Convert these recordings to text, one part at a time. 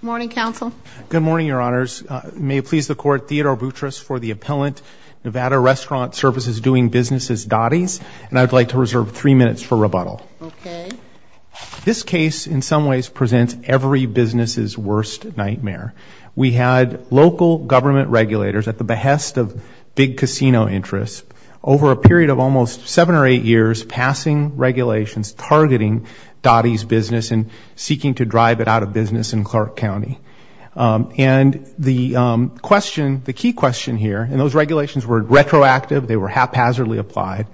Good morning, Counsel. Good morning, Your Honors. May it please the Court, Theodore Boutrous for the Appellant, Nevada Restaurant Service is doing business as Dottie's and I'd like to reserve three minutes for rebuttal. This case in some ways presents every business's worst nightmare. We had local government regulators at the behest of big casino interests over a period of almost seven or eight years passing regulations targeting Dottie's business and seeking to drive it out of business in Clark County. And the question, the key question here, and those regulations were retroactive, they were haphazardly applied,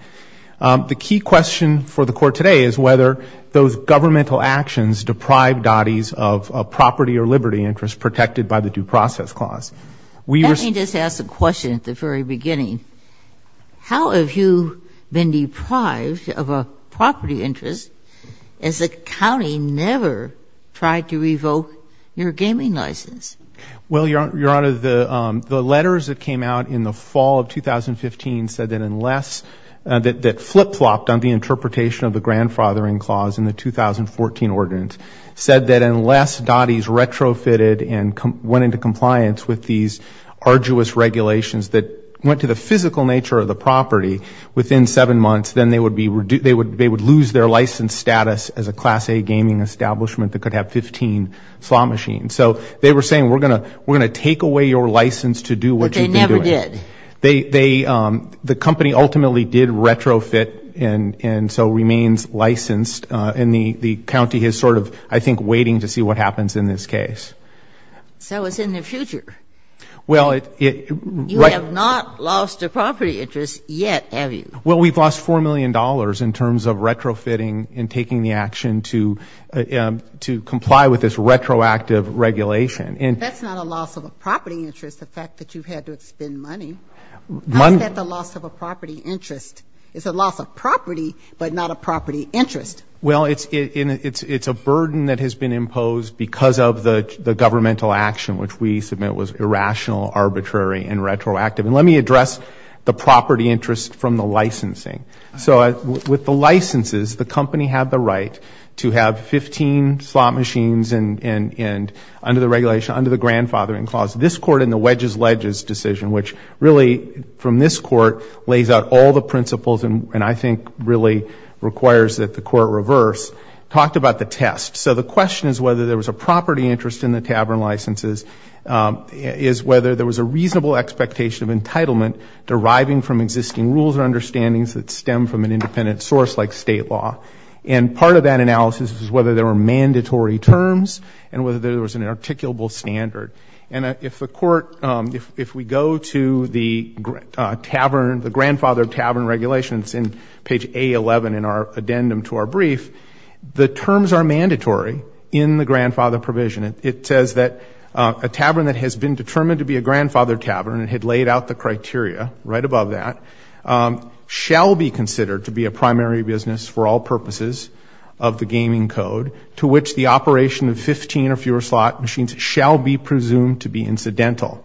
the key question for the Court today is whether those governmental actions deprive Dottie's of a property or liberty interest protected by the Due Process Clause. Let me just ask a question at the very beginning. How have you been trying to revoke your gaming license? Well, Your Honor, the letters that came out in the fall of 2015 said that unless, that flip-flopped on the interpretation of the grandfathering clause in the 2014 ordinance, said that unless Dottie's retrofitted and went into compliance with these arduous regulations that went to the physical nature of the property within seven months, then they would be, they would lose their license status as a gaming establishment that could have 15 slot machines. So they were saying we're going to, we're going to take away your license to do what you can do. But they never did. The company ultimately did retrofit and so remains licensed and the county is sort of, I think, waiting to see what happens in this case. So it's in the future. Well, you have not lost a property interest yet, have you? Well, we've lost $4 million in terms of retrofitting and taking the action to comply with this retroactive regulation. That's not a loss of a property interest, the fact that you've had to spend money. How is that a loss of a property interest? It's a loss of property, but not a property interest. Well, it's a burden that has been imposed because of the governmental action, which we submit was irrational, arbitrary, and retroactive. And let me address the property interest from the licensing. So with the licenses, the company had the right to have 15 slot machines and under the regulation, under the grandfathering clause. This Court in the Wedges-Ledges decision, which really from this Court lays out all the principles and I think really requires that the Court reverse, talked about the test. So the question is whether there was a property interest in the deriving from existing rules or understandings that stem from an independent source like state law. And part of that analysis is whether there were mandatory terms and whether there was an articulable standard. And if the Court, if we go to the tavern, the grandfather tavern regulations in page A11 in our addendum to our brief, the terms are mandatory in the grandfather provision. It says that a tavern that has been met the criteria, right above that, shall be considered to be a primary business for all purposes of the gaming code to which the operation of 15 or fewer slot machines shall be presumed to be incidental.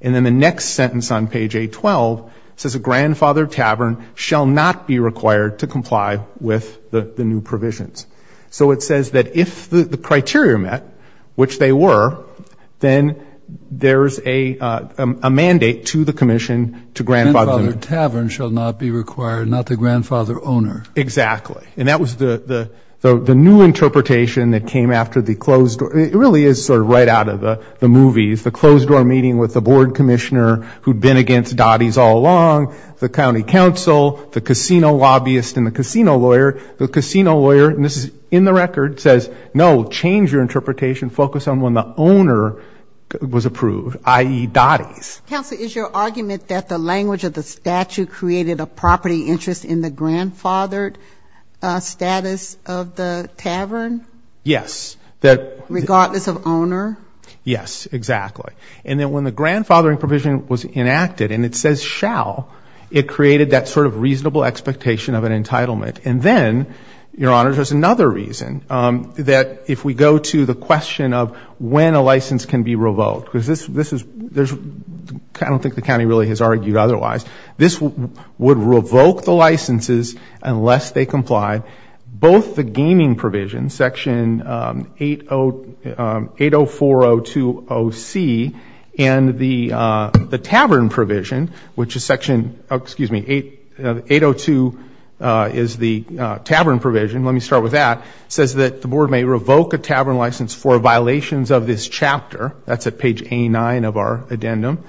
And then the next sentence on page A12 says a grandfather tavern shall not be required to comply with the new provisions. So it says that if the criteria are met, which they were, then there's a mandate to the commission to grandfather. » Grandfather tavern shall not be required, not the grandfather owner. » Exactly. And that was the new interpretation that came after the closed door. It really is sort of right out of the movies. The closed door meeting with the board commissioner who had been against Dottie's all along, the county attorney says no, change your interpretation, focus on when the owner was approved, i.e., Dottie's. » Counselor, is your argument that the language of the statute created a property interest in the grandfathered status of the tavern? » Yes. » Regardless of owner. » Yes, exactly. And then when the grandfathering provision was enacted and it says shall, it created that sort of property interest in the grandfathered status of the property. » And then the board says that if we go to the question of when a license can be revoked, because this is, there's, I don't think the county really has argued otherwise, this would revoke the licenses unless they complied, both the gaming provision, section 80402OC, and the tavern provision, which is section, excuse me, 802 is the tavern provision, let me rephrase that, section 804 may revoke a tavern license for violations of this chapter, that's at page A9 of our addendum,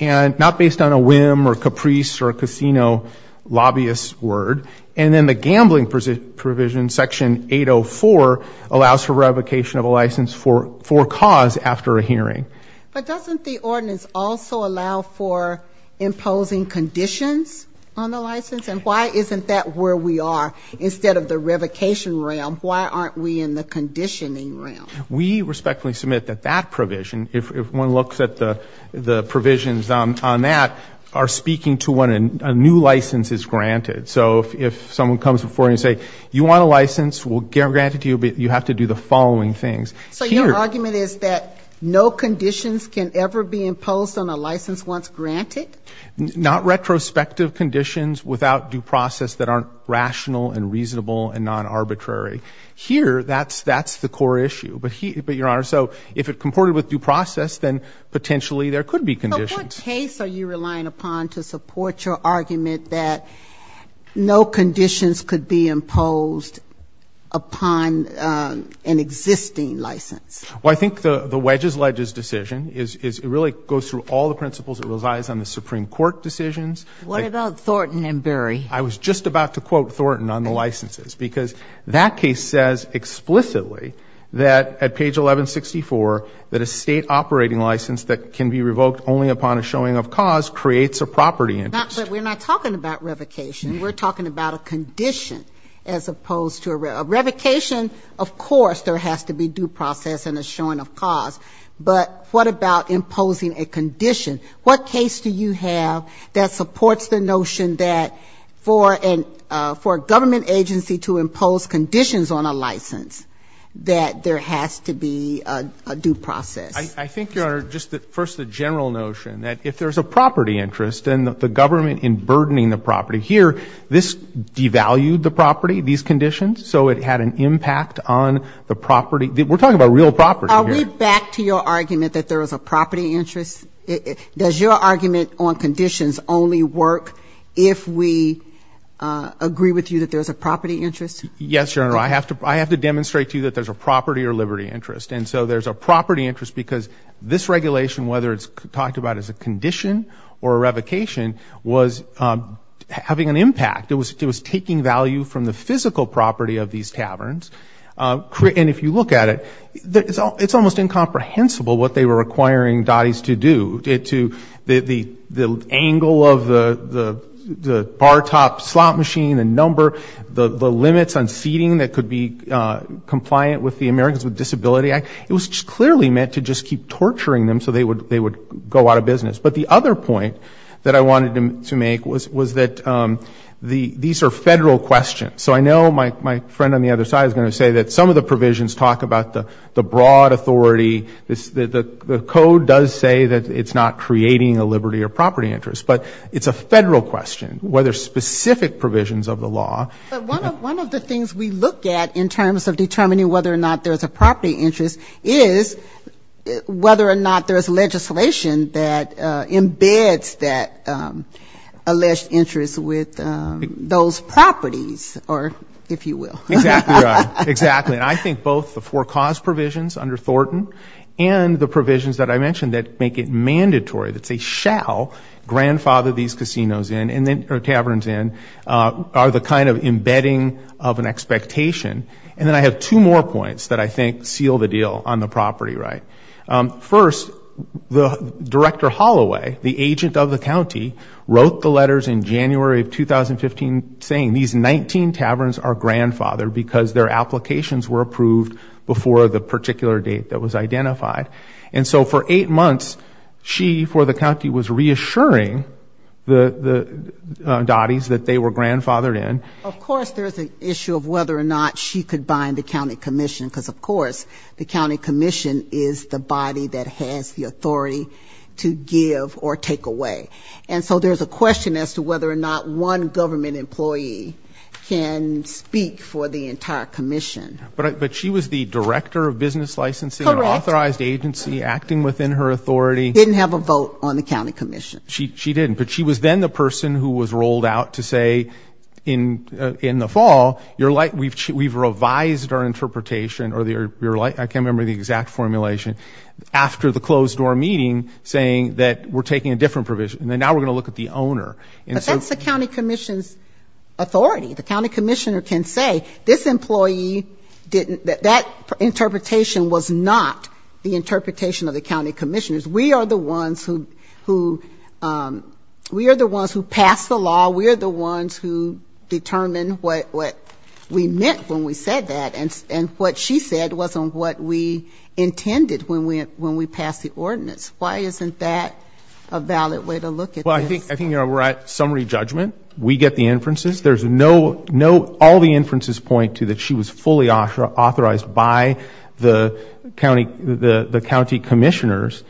and not based on a whim or caprice or casino lobbyist's word, and then the gambling provision, section 804, allows for revocation of a license for cause after a hearing. » But doesn't the ordinance also allow for imposing conditions on the license? And why isn't that where we are? Instead of the revocation realm, why aren't we in the conditioning realm? » We respectfully submit that that provision, if one looks at the provisions on that, are speaking to when a new license is granted. So if someone comes before you and says you want a license, we'll grant it to you, but you have to do the following things. » So your argument is that no conditions can ever be imposed on a license once granted? » Not retrospective conditions without due process that aren't rational and reasonable and non-arbitrary. Here, that's the core issue. But, Your Honor, so if it comported with due process, then potentially there could be conditions. » So what case are you relying upon to support your argument that no conditions could be imposed upon an existing license? » Well, I think the wedge's ledger's decision is it really goes through all the principles that it relies on, the circuit rules, the Supreme Court decisions. » What about Thornton and Bury? » I was just about to quote Thornton on the licenses, because that case says explicitly that at page 1164, that a state operating license that can be revoked only upon a showing of cause creates a property interest. » But we're not talking about revocation. We're talking about a condition as opposed to a revocation. Of course there has to be a due process and a showing of cause. But what about imposing a condition? What case do you have that supports the notion that for a government agency to impose conditions on a license, that there has to be a due process? » I think, Your Honor, just first the general notion that if there's a property interest and the government in burdening the property, we're talking about real property here. » Are we back to your argument that there is a property interest? Does your argument on conditions only work if we agree with you that there's a property interest? » Yes, Your Honor. I have to demonstrate to you that there's a property or liberty interest. And so there's a property interest because this regulation, whether it's talked about as a condition or a revocation, was having an impact. It was taking value from the physical property of these taverns. And if you look at it, it's almost incomprehensible what they were requiring DOTIs to do. The angle of the bar top slot machine, the number, the limits on seating that could be compliant with the Americans with Disabilities Act, it was clearly meant to just keep torturing them so they would go out of business. But the other point that I wanted to make was that these are federal questions. So I know my friend on the other side is going to say that some of the provisions talk about the broad authority. The code does say that it's not creating a liberty or property interest. But it's a federal question, whether specific provisions of the law. » But one of the things we look at in terms of determining whether or not there's a property interest is whether or not there's legislation that embeds that alleged interest with those properties. » Exactly right. And I think both the four cause provisions under Thornton and the provisions that I mentioned that make it mandatory, that say shall grandfather these casinos in or taverns in, are the kind of embedding of an expectation. And then I have two more points that I think seal the deal on the property right. First, the director Holloway, the agent of the county, wrote the letters in January of 2015 saying these 19 taverns are grandfathered because their applications were approved before the particular date that was identified. And so for eight months, she, for the county, was reassuring the Dotties that they were grandfathered in. » Of course there's an issue of whether or not she could bind the county commission. Because of course the county commission is the body that has the authority to give or take away. And so there's a question as to whether or not one government employee can speak for the entire commission. » But she was the director of business licensing, an authorized agency acting within her authority. » Didn't have a vote on the county commission. » She didn't. But she was then the person who was rolled out to say in the fall, we've revised our interpretation, or I can't remember the exact formulation, after the closed door meeting, saying that we're taking a different provision. And now we're going to look at the owner. » But that's the county commission's authority. The county commissioner can say, this employee didn't, that interpretation was not the interpretation of the county commissioners. We are the ones who pass the law. We are the ones who determine what we meant when we said that. And what she said wasn't what we intended when we passed the ordinance. Why isn't that a valid way to look at this? » Well, I think we're at summary judgment. We get the inferences. There's no, all the inferences point to that she was fully authorized by the county commissioners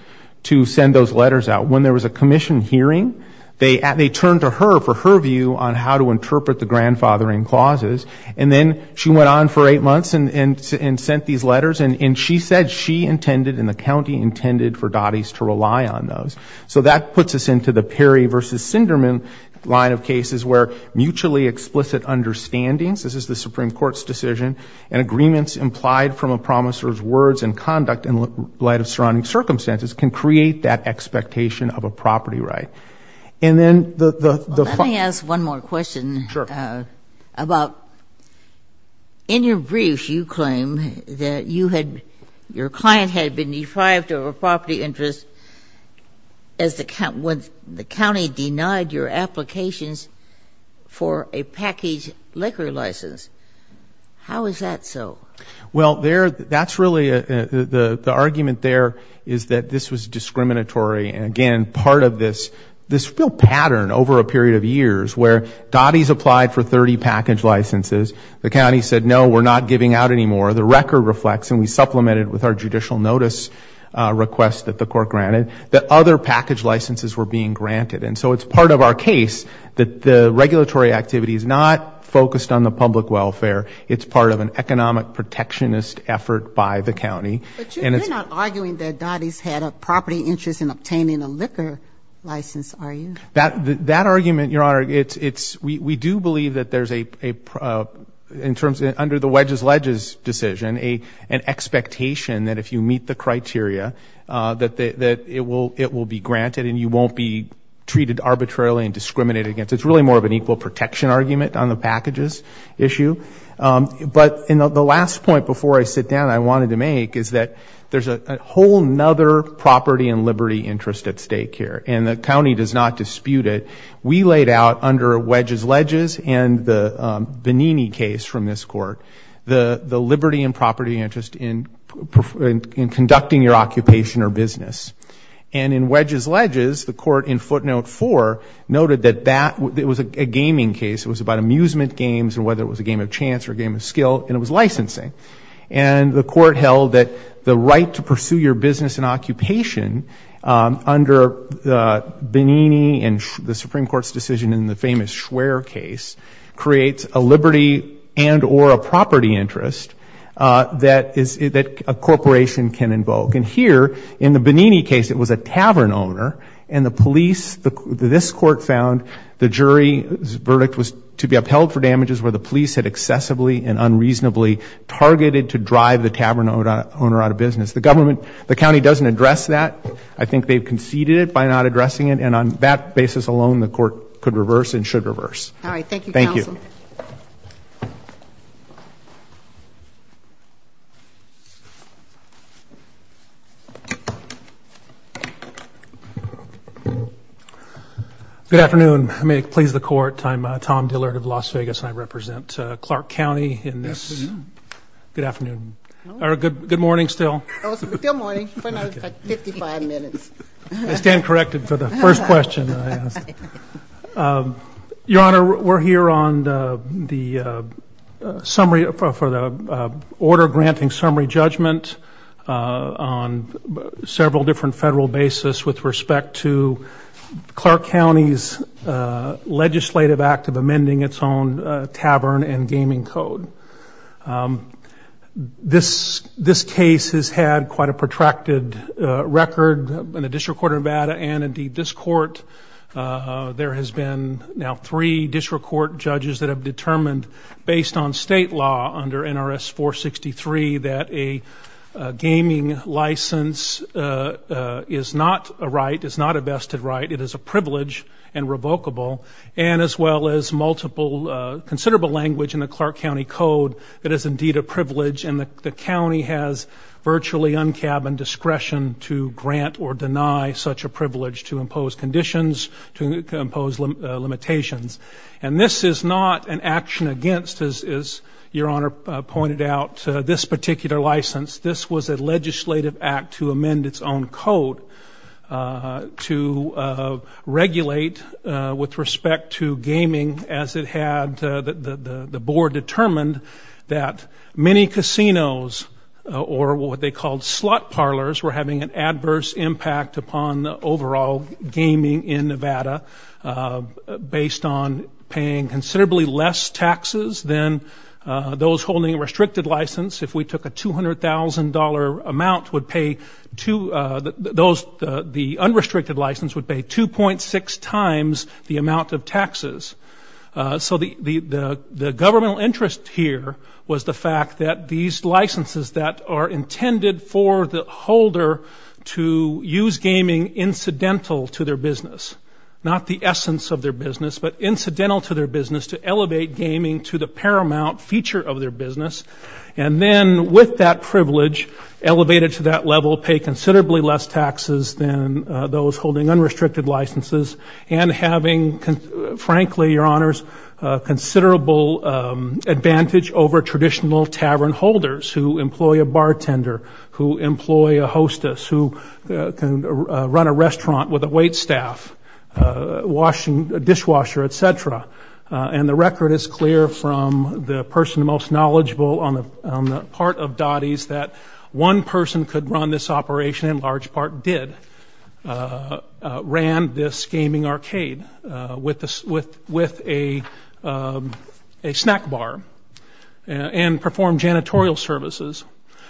to send those letters out. When there was a commission hearing, they turned to her for her view on how to interpret the grandfathering clauses. And then she went on for eight months and sent these letters. And she said she didn't have the authority intended for Dottie's to rely on those. So that puts us into the Perry v. Sinderman line of cases where mutually explicit understandings, this is the Supreme Court's decision, and agreements implied from a promisor's words and conduct in light of surrounding circumstances can create that expectation of a property right. And then the... » Let me ask one more question. » Sure. » About, in your brief, you claim that you had, your client had been deprived of a property interest as the county denied your applications for a packaged liquor license. How is that so? » Well, there, that's really, the argument there is that this was discriminatory. And again, part of this, this real pattern over a long period of time is that the county denied for 30 package licenses. The county said, no, we're not giving out anymore. The record reflects, and we supplemented with our judicial notice request that the court granted, that other package licenses were being granted. And so it's part of our case that the regulatory activity is not focused on the public welfare. It's part of an economic protectionist effort by the county. » But you're not arguing that Dottie's had a property interest in obtaining a liquor license, are you? » That argument, Your Honor, it's, we do believe that there's a, in terms of under the wedges-ledges decision, an expectation that if you meet the criteria, that it will be granted and you won't be treated arbitrarily and discriminated against. It's really more of an equal protection argument on the packages issue. But the last point before I sit down I wanted to make is that there's a whole other property and liberty interest at stake here. And the county does not dispute it. We laid out under wedges-ledges and the Benini case from this court, the liberty and property interest in conducting your occupation or business. And in wedges-ledges, the court in footnote four noted that that, it was a gaming case, it was about amusement games and whether it was a game of chance or a game of skill, and it was licensing. And the court held that the right to pursue your business in a way that was appropriate to your interests and occupations under the Benini and the Supreme Court's decision in the famous Schwer case creates a liberty and or a property interest that is, that a corporation can invoke. And here, in the Benini case, it was a tavern owner, and the police, this court found the jury's verdict was to be upheld for damages where the police had excessively and unreasonably targeted to drive the tavern owner out of business. The government, the county does not address that. I think they've conceded it by not addressing it. And on that basis alone, the court could reverse and should reverse. Good afternoon. May it please the Court. I'm Tom Dillard of Las Vegas, and I represent Clark County in this. Good afternoon. Or good morning still. I stand corrected for the first question I asked. Your Honor, we're here on the order granting summary judgment on several different federal basis with respect to Clark County's legislative act of amending its own tavern and gaming code. This case has had quite a protracted record in the District Court of Nevada and, indeed, this Court. There has been now three District Court judges that have determined, based on state law under NRS 463, that a gaming license is not a right, is not a vested right. It is a privilege and revocable. And as well as multiple considerable language in the Clark County Code, it is indeed a privilege. And the county has virtually un-cabined discretion to grant or deny such a privilege to impose conditions, to impose limitations. And this is not an action against, as Your Honor pointed out, this particular license. This was a legislative act to amend its own code to regulate with respect to gaming, as it had the Board determined, that many casinos, or what they called slot parlors, were having an adverse impact upon overall gaming in Nevada, based on paying considerably less taxes than those holding a restricted license. If we took a $200,000 amount, the unrestricted license would pay 2.6 times the amount of taxes. So the governmental interest here in this case is not a right. It is a privilege and revocable privilege. And what we found here was the fact that these licenses that are intended for the holder to use gaming incidental to their business, not the essence of their business, but incidental to their business, to elevate gaming to the paramount feature of their business, and then with that privilege, elevate it to that level, pay considerably less taxes than those holding unrestricted licenses, and having, frankly, Your Honors, considerable advantage over traditional tavern holders who employ a bartender, who employ a hostess, who can run a restaurant with a wait staff, dishwasher, etc. And the record is clear from the person most knowledgeable on the part of Dottie's that one person could run this operation, and in large part did, ran this gaming arcade with a snack bar. And performed janitorial services.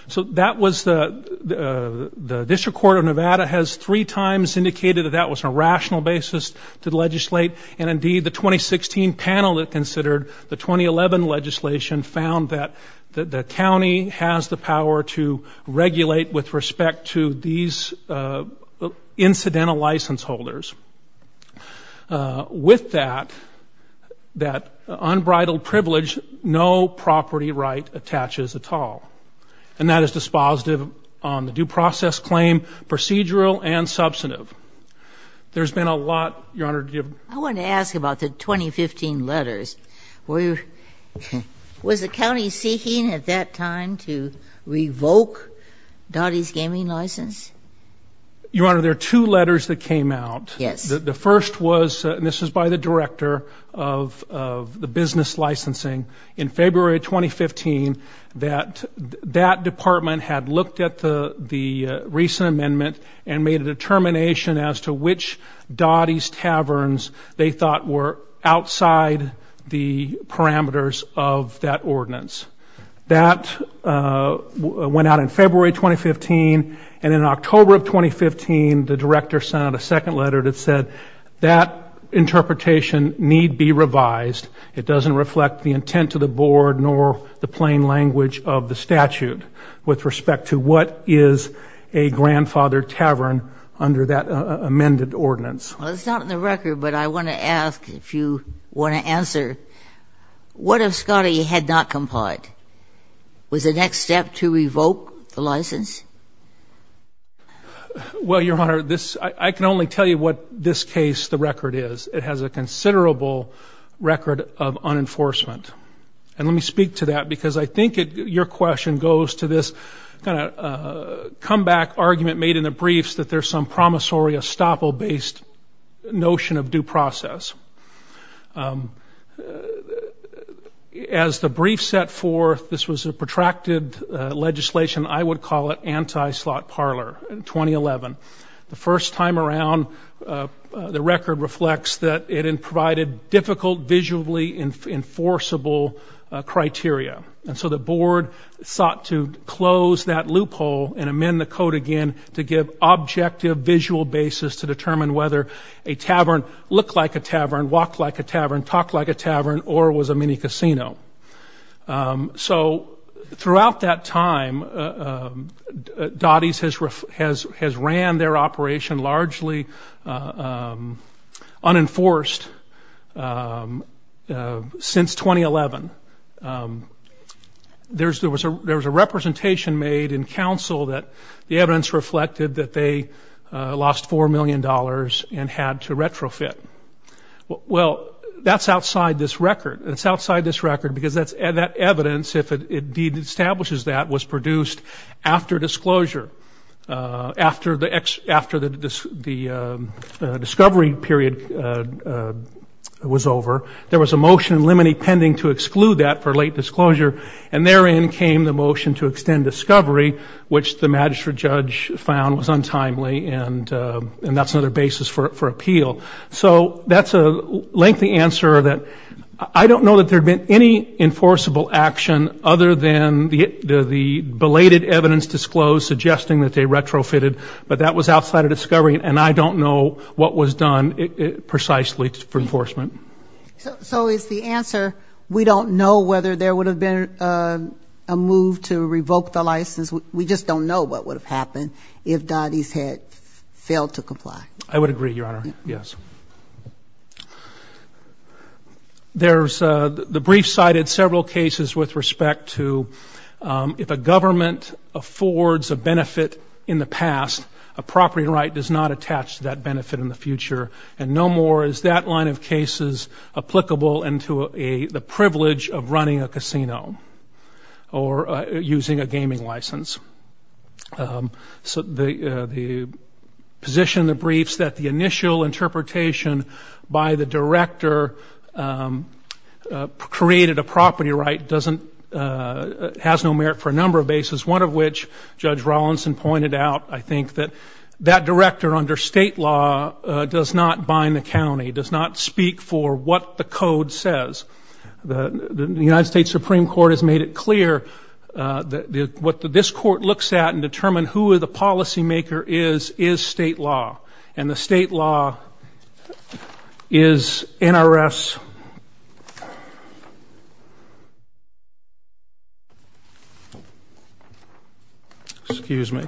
So that was the, the District Court of Nevada has three times indicated that that was a rational basis to legislate, and indeed the 2016 panel that considered the 2011 legislation found that the county has the power to regulate with respect to these incidental license holders. With that, that unbridled privilege, no property right attaches at all. And that is dispositive on the due process claim, procedural and substantive. There's been a lot, Your Honor, to give. I want to ask about the 2015 letters. Were, was the county seeking at that time to revoke Dottie's gaming license? Your Honor, there are two letters that came out. The first was, and this is by the director of the business licensing, in February 2015, that that department had looked at the recent amendment and made a determination as to which Dottie's taverns they thought were outside the parameters of that ordinance. That went out in February 2015, and in October of 2015, the director sent out a second letter that said, that interpretation need be revised. It doesn't reflect the intent of the board nor the plain language of the statute with respect to what is a grandfather tavern under that amended ordinance. Well, it's not in the record, but I want to ask if you want to answer, what if Dottie had not complied? Was the next step to revoke the license? Well, Your Honor, this, I can only tell you what this case, the record is. It has a considerable record of unenforcement. And let me speak to that, because I think it, your question goes to this kind of comeback argument made in the briefs that there's some promissory estoppel-based notion of due process. As the brief set forth, this was a protracted legislation, I would call it anti-slot parlor in 2011. The first time around, the record reflects that it provided difficult visually enforceable criteria. And so the board sought to close that loophole and amend the code again to give objective visual basis to determine whether a tavern looked like a tavern, walked like a tavern, talked like a tavern, or was a mini-casino. So throughout that time, Dottie's has ran their operation largely unenforced since 2011. There was a representation made in counsel that the evidence reflected that they lost $4 million, and had to retrofit. Well, that's outside this record, because that evidence, if it indeed establishes that, was produced after disclosure, after the discovery period was over. There was a motion in limine pending to exclude that for late disclosure, and therein came the motion to extend discovery, which the magistrate judge found was untimely, and that was for appeal. So that's a lengthy answer that I don't know that there had been any enforceable action other than the belated evidence disclosed, suggesting that they retrofitted, but that was outside of discovery, and I don't know what was done precisely for enforcement. So it's the answer, we don't know whether there would have been a move to revoke the license, we just don't know what would have happened. The brief cited several cases with respect to, if a government affords a benefit in the past, a property right does not attach to that benefit in the future, and no more is that line of cases applicable into the privilege of running a casino, or using a gaming license. So the position of the briefs that the initial interpretation by the director created a property right has no merit for a number of bases, one of which Judge Rollinson pointed out, I think, that that director under state law does not bind the county, does not speak for what the code says. The United States Supreme Court has made it clear that what this court looks at and determine who the policymaker is, is state law, and the state law is NRS. Excuse me.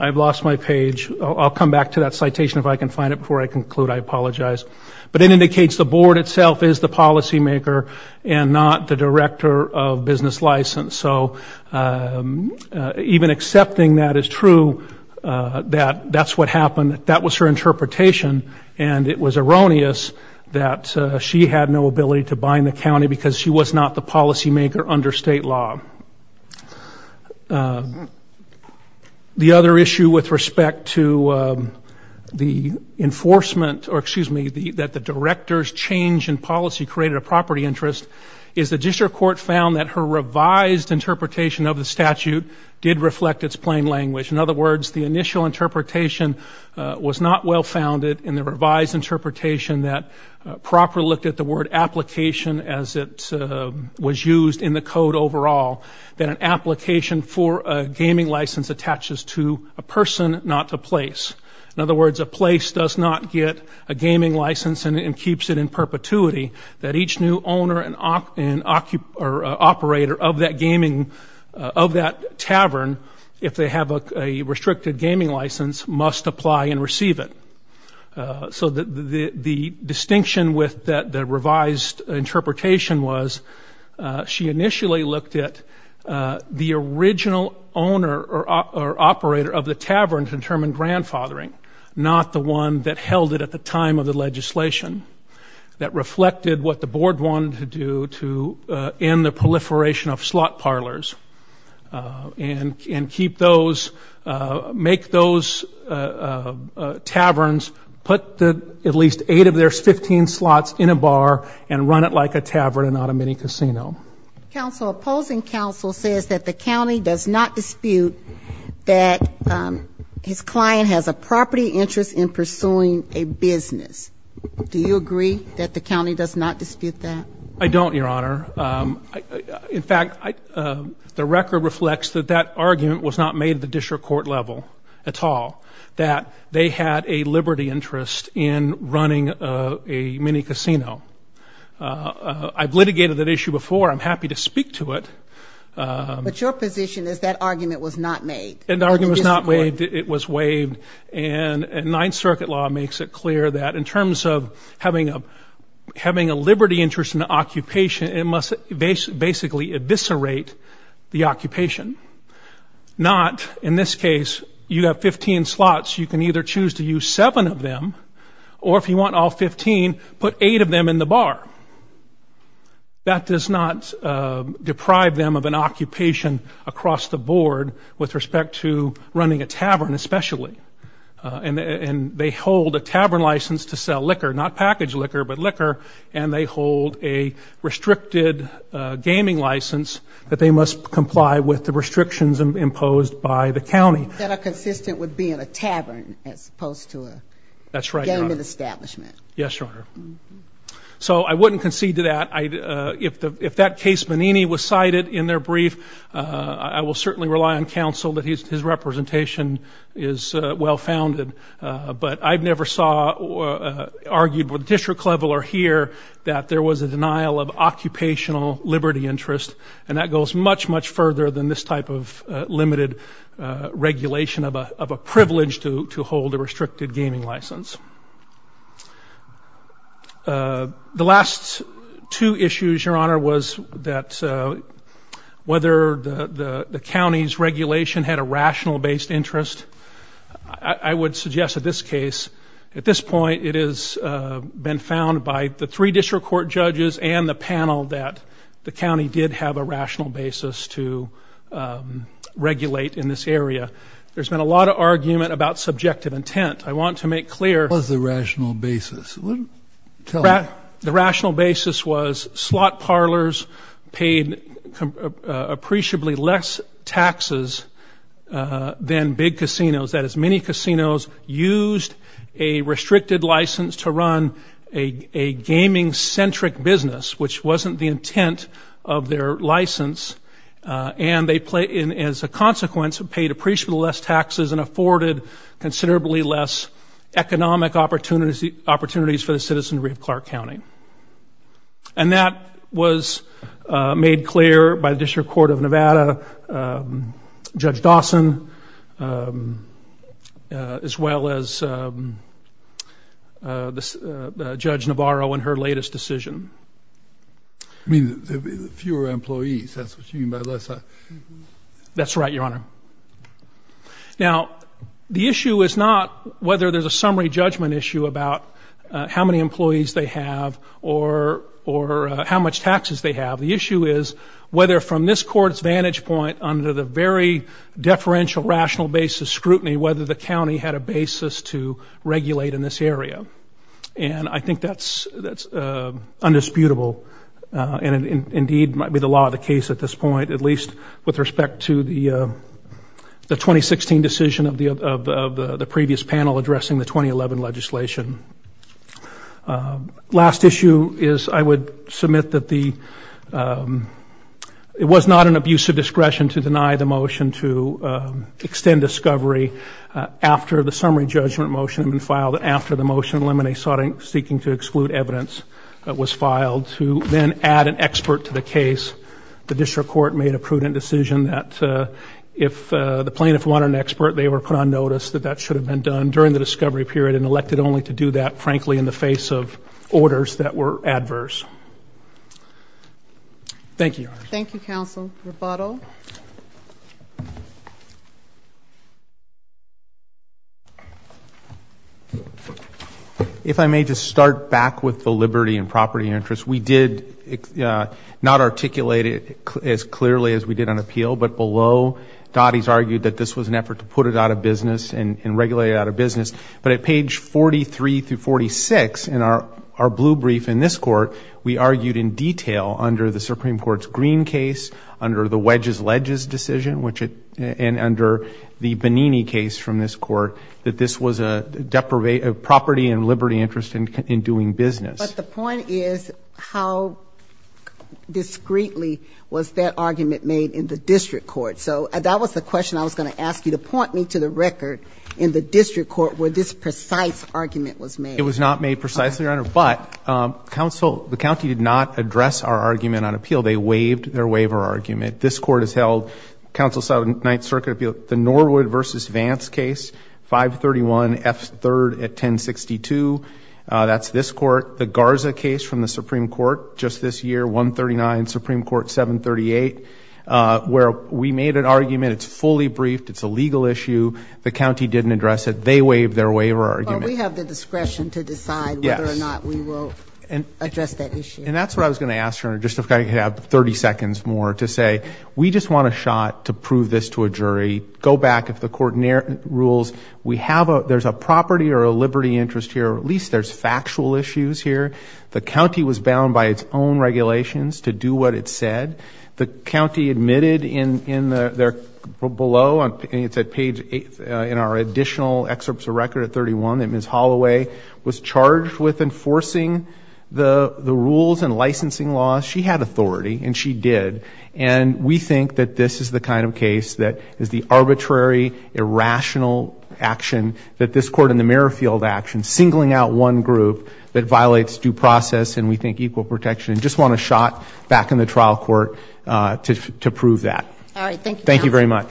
I've lost my page, I'll come back to that citation if I can find it before I conclude, I apologize. But it indicates the board itself is the policymaker and not the director of business license, so even accepting that is true, that that's what happened, that was her interpretation, and it was erroneous that she had no ability to bind the county because she was not the policymaker under state law. The other issue with respect to the enforcement, or excuse me, that the director's change in policy created a property interest, is the district court found that her revised interpretation of the statute did reflect its plain language. In other words, the initial interpretation was not well founded in the revised interpretation that properly looked at the word application as it was used in the code overall. That an application for a gaming license attaches to a person, not to place. In other words, a place does not get a gaming license and keeps it in perpetuity, that each new owner and operator of that gaming, of that tavern, if they have a restricted gaming license, must apply and receive it. So the distinction with the revised interpretation was, she initially looked at a person, not a place. The original owner or operator of the tavern determined grandfathering, not the one that held it at the time of the legislation, that reflected what the board wanted to do to end the proliferation of slot parlors and keep those, make those taverns, put at least eight of their 15 slots in a bar and run it like a tavern and not a mini casino. Counsel, opposing counsel says that the county does not dispute that his client has a property interest in pursuing a business. Do you agree that the county does not dispute that? I don't, Your Honor. In fact, the record reflects that that argument was not made at the district court level at all, that they had a liberty interest in running a mini casino. I've litigated that issue before. I'm happy to speak to it. But your position is that argument was not made? The argument was not made. It was waived. And Ninth Circuit law makes it clear that in terms of having a liberty interest in the occupation, it must basically eviscerate the occupation. Not, in this case, you have 15 slots, you can either choose to use them in the bar. That does not deprive them of an occupation across the board with respect to running a tavern, especially. And they hold a tavern license to sell liquor, not packaged liquor, but liquor, and they hold a restricted gaming license that they must comply with the restrictions imposed by the county. That are consistent with being a tavern as opposed to a gaming establishment. So I wouldn't concede to that. If that case Menini was cited in their brief, I will certainly rely on counsel that his representation is well-founded. But I've never argued at the district level or here that there was a denial of occupational liberty interest, and that goes much, much further than this type of limited regulation of a privilege to hold a restricted gaming license. The last two issues, Your Honor, was that whether the county's regulation had a rational-based interest. I would suggest at this case, at this point, it has been found by the three district court judges and the panel that the county did have a rational basis to regulate in this area. There's been a lot of argument about subjective intent. I want to make clear... The rational basis was slot parlors paid appreciably less taxes than big casinos. That is, many casinos used a restricted license to run a gaming-centric business, which wasn't the intent of their license, and as a consequence, paid appreciably less taxes and less economic opportunities for the citizenry of Clark County. And that was made clear by the District Court of Nevada, Judge Dawson, as well as Judge Navarro in her latest decision. I mean, fewer employees. That's what you mean by less... That's right, Your Honor. Now, the issue is not whether there's a summary judgment issue about how many employees they have or how much taxes they have. The issue is whether, from this Court's vantage point, under the very deferential, rational basis scrutiny, whether the county had a basis to regulate in this area. And I think that's undisputable, and indeed might be the law of the case at this point, at least with respect to the 2016 decision of the previous panel addressing the 2011 legislation. Last issue is I would submit that it was not an abuse of discretion to deny the motion to extend discovery after the summary judgment motion had been filed, after the motion eliminating seeking to exclude evidence was filed, to then add an expert to the case. The District Court made a prudent decision that if the plaintiff wanted an expert, they were put on notice that that should have been done during the discovery period, and elected only to do that, frankly, in the face of orders that were adverse. Thank you, Your Honor. If I may just start back with the liberty and property interest. We did not articulate it as clearly as we did on appeal, but below, Dottie's argued that this was an effort to put it out of business and regulate it out of business. But at page 43 through 46 in our blue brief in this Court, we argued in detail under the Supreme Court's Green case, under the Wedges-Ledges decision, and under the Bonini case from this Court, that this was a property and liberty interest in doing business. But the point is, how discreetly was that argument made in the District Court? So that was the question I was going to ask you, to point me to the record in the District Court where this precise argument was made. It was not made precisely, Your Honor, but the county did not address our argument on appeal. They waived their waiver argument. This Court has held, Council of Southern Ninth Circuit, the Norwood v. Vance case, 531 F. 3rd at 1062. That's this Court. The Garza case from the Supreme Court, just this year, 139 Supreme Court, 738, where we made an argument. It's fully briefed. It's a legal issue. The county didn't address it. They waived their waiver argument. And that's what I was going to ask, Your Honor, just if I could have 30 seconds more, to say, we just want a shot to prove this to a jury, go back, if the Court rules, there's a property or a liberty interest here, or at least there's factual issues here. The county was bound by its own regulations to do what it said. The county admitted below, it's at page 8 in our additional excerpts of record at 31, that Ms. Holloway was charged with enforcing the rules and licensing laws. She had authority, and she did. And we think that this is the kind of case that is the arbitrary, irrational action that this Court in the Merrifield action, singling out one group that violates due process, and we think equal protection. Just want a shot back in the trial court to prove that. Thank you very much.